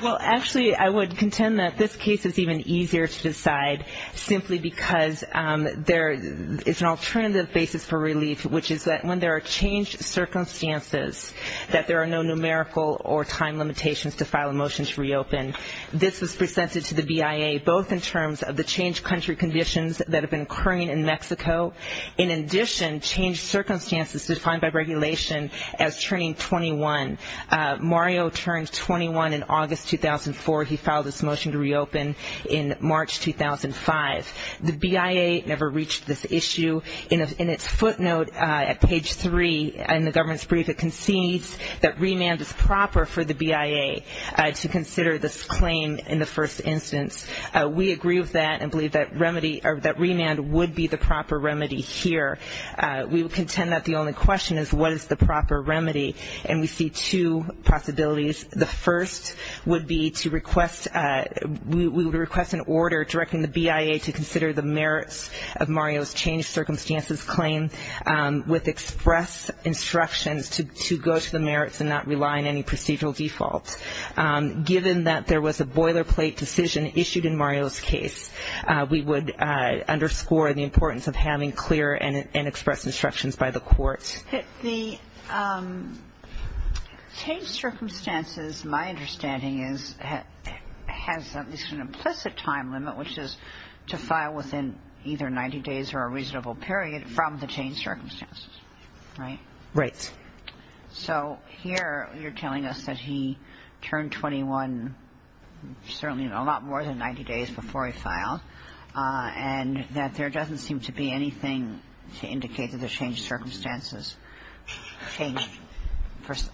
Well, actually I would contend that this case is even easier to decide simply because there is an alternative basis for relief, which is that when there are changed circumstances, that there are no numerical or time limitations to file a motion to reopen, this was presented to the BIA both in terms of the changed country conditions that have been occurring in Mexico, in addition changed circumstances defined by regulation as turning 21. Mario turned 21 in August 2004. He filed this motion to reopen in March 2005. The BIA never reached this issue. In its footnote at page 3 in the government's brief, it concedes that remand is proper for the BIA to consider this claim in the first instance. We agree with that and believe that remand would be the proper remedy here. We would contend that the only question is what is the proper remedy. And we see two possibilities. The first would be to request, we would request an order directing the BIA to consider the merits of Mario's changed circumstances claim with express instructions to go to the merits and not rely on any procedural default. Given that there was a boilerplate decision issued in Mario's case, we would underscore the importance of having clear and express instructions by the court. The changed circumstances, my understanding is, has at least an implicit time limit, which is to file within either 90 days or a reasonable period from the changed circumstances. Right? Right. So here you're telling us that he turned 21, certainly a lot more than 90 days before he filed, and that there doesn't seem to be anything to indicate that the changed circumstances changed.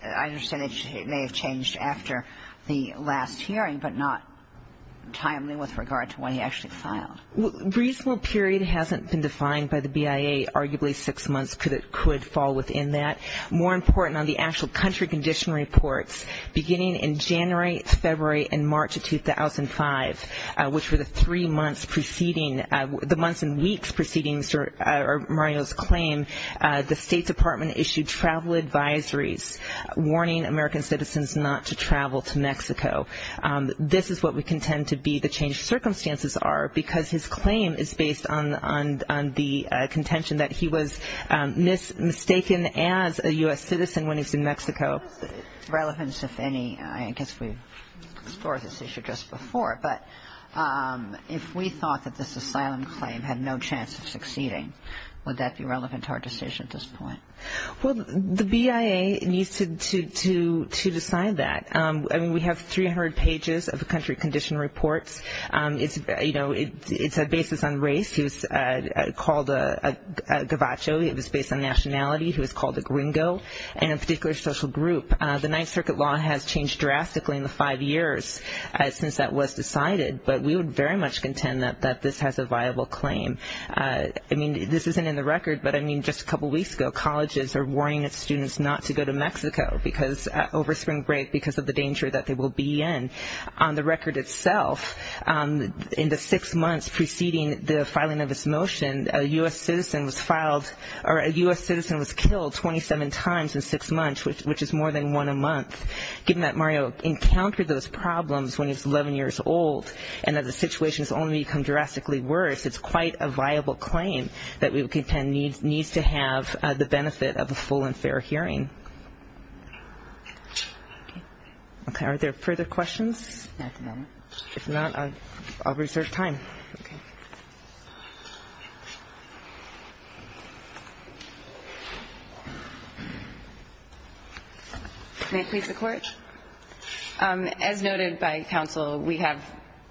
I understand it may have changed after the last hearing, but not timely with regard to when he actually filed. Reasonable period hasn't been defined by the BIA. Arguably six months could fall within that. More important on the actual country condition reports, beginning in January, February, and March of 2005, which were the three months preceding, the months and weeks preceding Mario's claim, the State Department issued travel advisories warning American citizens not to travel to Mexico. This is what we contend to be the changed circumstances are, because his claim is based on the contention that he was mistaken as a U.S. citizen when he was in Mexico. Relevance, if any, I guess we explored this issue just before, but if we thought that this asylum claim had no chance of succeeding, would that be relevant to our decision at this point? Well, the BIA needs to decide that. I mean, we have 300 pages of country condition reports. It's a basis on race. He was called a Gavacho. He was based on nationality. He was called a gringo, and a particular social group. The Ninth Circuit law has changed drastically in the five years since that was decided, but we would very much contend that this has a viable claim. I mean, this isn't in the record, but I mean, just a couple weeks ago, colleges are warning its students not to go to Mexico over spring break because of the danger that they will be in. On the record itself, in the six months preceding the filing of this motion, a U.S. citizen was filed or a U.S. citizen was killed 27 times in six months, which is more than one a month. Given that Mario encountered those problems when he was 11 years old and that the situation has only become drastically worse, it's quite a viable claim that we would contend needs to have the benefit of a full and fair hearing. Okay. Are there further questions? Not at the moment. If not, I'll reserve time. Okay. May it please the Court? As noted by counsel, we have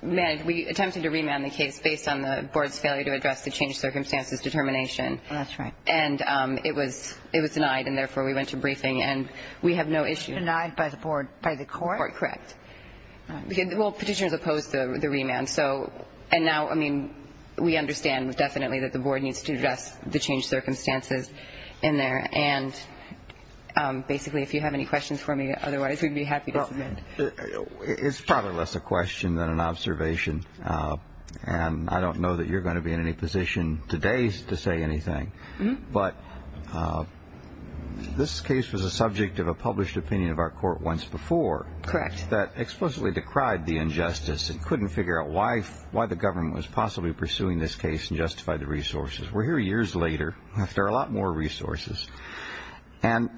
attempted to remand the case based on the board's failure to address the changed circumstances determination. That's right. And it was denied, and therefore we went to briefing, and we have no issue. Denied by the court? By the court, correct. All right. Well, petitioners opposed the remand. And now, I mean, we understand definitely that the board needs to address the changed circumstances in there. And basically, if you have any questions for me, otherwise we'd be happy to submit. It's probably less a question than an observation, and I don't know that you're going to be in any position today to say anything. But this case was a subject of a published opinion of our court once before. Correct. That explicitly decried the injustice and couldn't figure out why the government was possibly pursuing this case and justified the resources. We're here years later. There are a lot more resources. And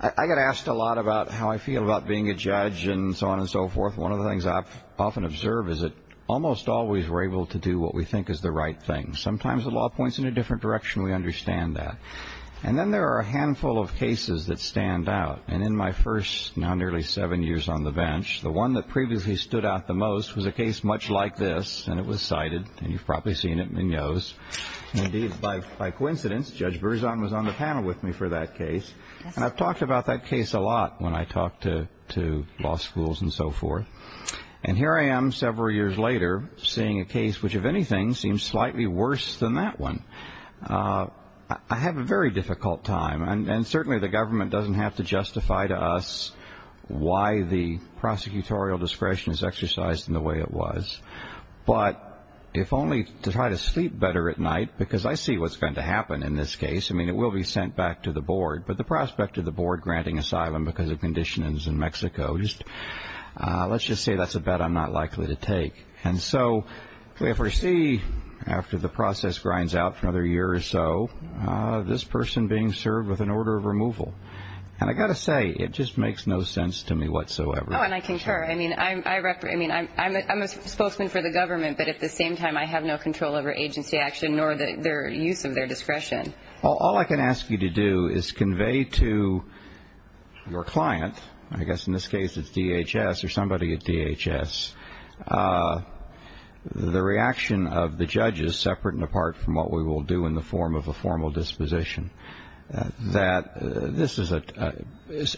I get asked a lot about how I feel about being a judge and so on and so forth. One of the things I often observe is that almost always we're able to do what we think is the right thing. Sometimes the law points in a different direction. We understand that. And then there are a handful of cases that stand out. And in my first now nearly seven years on the bench, the one that previously stood out the most was a case much like this, and it was cited. And you've probably seen it in the news. Indeed, by coincidence, Judge Berzon was on the panel with me for that case. And I've talked about that case a lot when I talk to law schools and so forth. And here I am several years later seeing a case which, if anything, seems slightly worse than that one. I have a very difficult time. And certainly the government doesn't have to justify to us why the prosecutorial discretion is exercised in the way it was. But if only to try to sleep better at night, because I see what's going to happen in this case. I mean, it will be sent back to the board. But the prospect of the board granting asylum because of conditions in Mexico, let's just say that's a bet I'm not likely to take. And so if we see, after the process grinds out for another year or so, this person being served with an order of removal, and I've got to say it just makes no sense to me whatsoever. Oh, and I concur. I mean, I'm a spokesman for the government, but at the same time I have no control over agency action nor the use of their discretion. All I can ask you to do is convey to your client, I guess in this case it's DHS or somebody at DHS, the reaction of the judges, separate and apart from what we will do in the form of a formal disposition, that this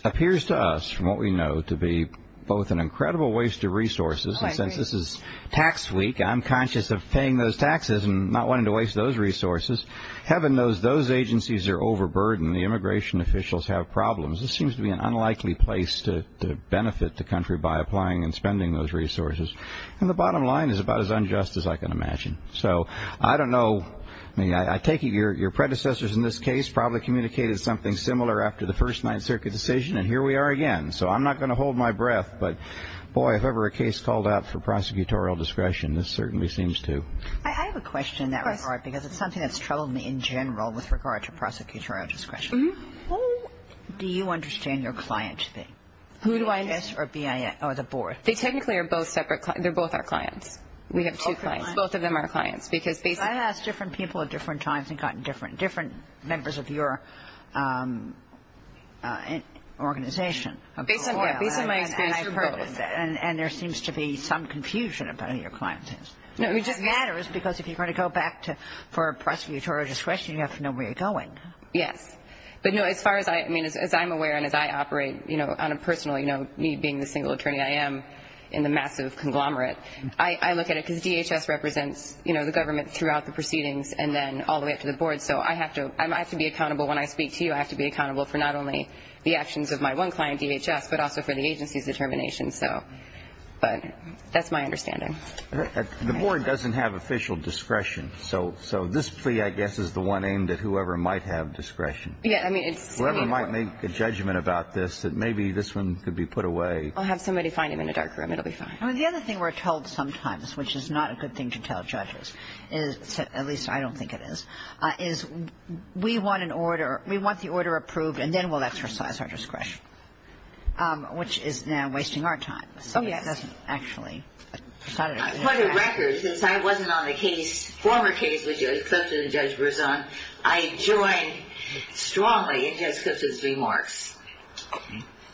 appears to us, from what we know, to be both an incredible waste of resources, and since this is tax week I'm conscious of paying those taxes and not wanting to waste those resources. Heaven knows those agencies are overburdened. The immigration officials have problems. This seems to be an unlikely place to benefit the country by applying and spending those resources. And the bottom line is about as unjust as I can imagine. So I don't know. I mean, I take it your predecessors in this case probably communicated something similar after the first Ninth Circuit decision, and here we are again. So I'm not going to hold my breath, but, boy, if ever a case called out for prosecutorial discretion this certainly seems to. I have a question in that regard because it's something that's troubled me in general with regard to prosecutorial discretion. How do you understand your client to be, DHS or BIS or the board? They technically are both separate clients. They're both our clients. We have two clients. Both of them are clients. I've asked different people at different times and gotten different members of your organization. Based on my experience you're both. And there seems to be some confusion about who your client is. It just matters because if you're going to go back for prosecutorial discretion you have to know where you're going. Yes. But, no, as far as I'm aware and as I operate on a personal need being the single attorney I am in the massive conglomerate, but I look at it because DHS represents the government throughout the proceedings and then all the way up to the board. So I have to be accountable when I speak to you. I have to be accountable for not only the actions of my one client, DHS, but also for the agency's determination. But that's my understanding. The board doesn't have official discretion. So this plea, I guess, is the one aimed at whoever might have discretion. Yes. Whoever might make a judgment about this that maybe this one could be put away. I'll have somebody find him in a dark room. It will be fine. The other thing we're told sometimes, which is not a good thing to tell judges, at least I don't think it is, is we want the order approved and then we'll exercise our discretion, which is now wasting our time. Oh, yes. Actually. For the record, since I wasn't on the former case with Judge Clifton and Judge Berzon, I joined strongly in Judge Clifton's remarks.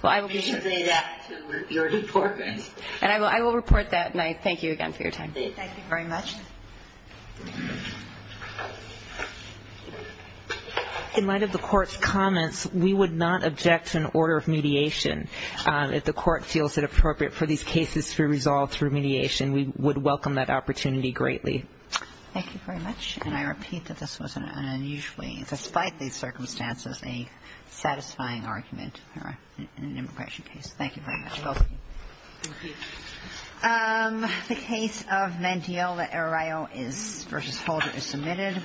You should say that to your department. And I will report that. And I thank you again for your time. Thank you very much. In light of the Court's comments, we would not object to an order of mediation. If the Court feels it appropriate for these cases to be resolved through mediation, we would welcome that opportunity greatly. Thank you very much. And I repeat that this was an unusually, despite the circumstances, a satisfying argument in an immigration case. Thank you very much. Both of you. Thank you. The case of Mantiello v. Holder is submitted.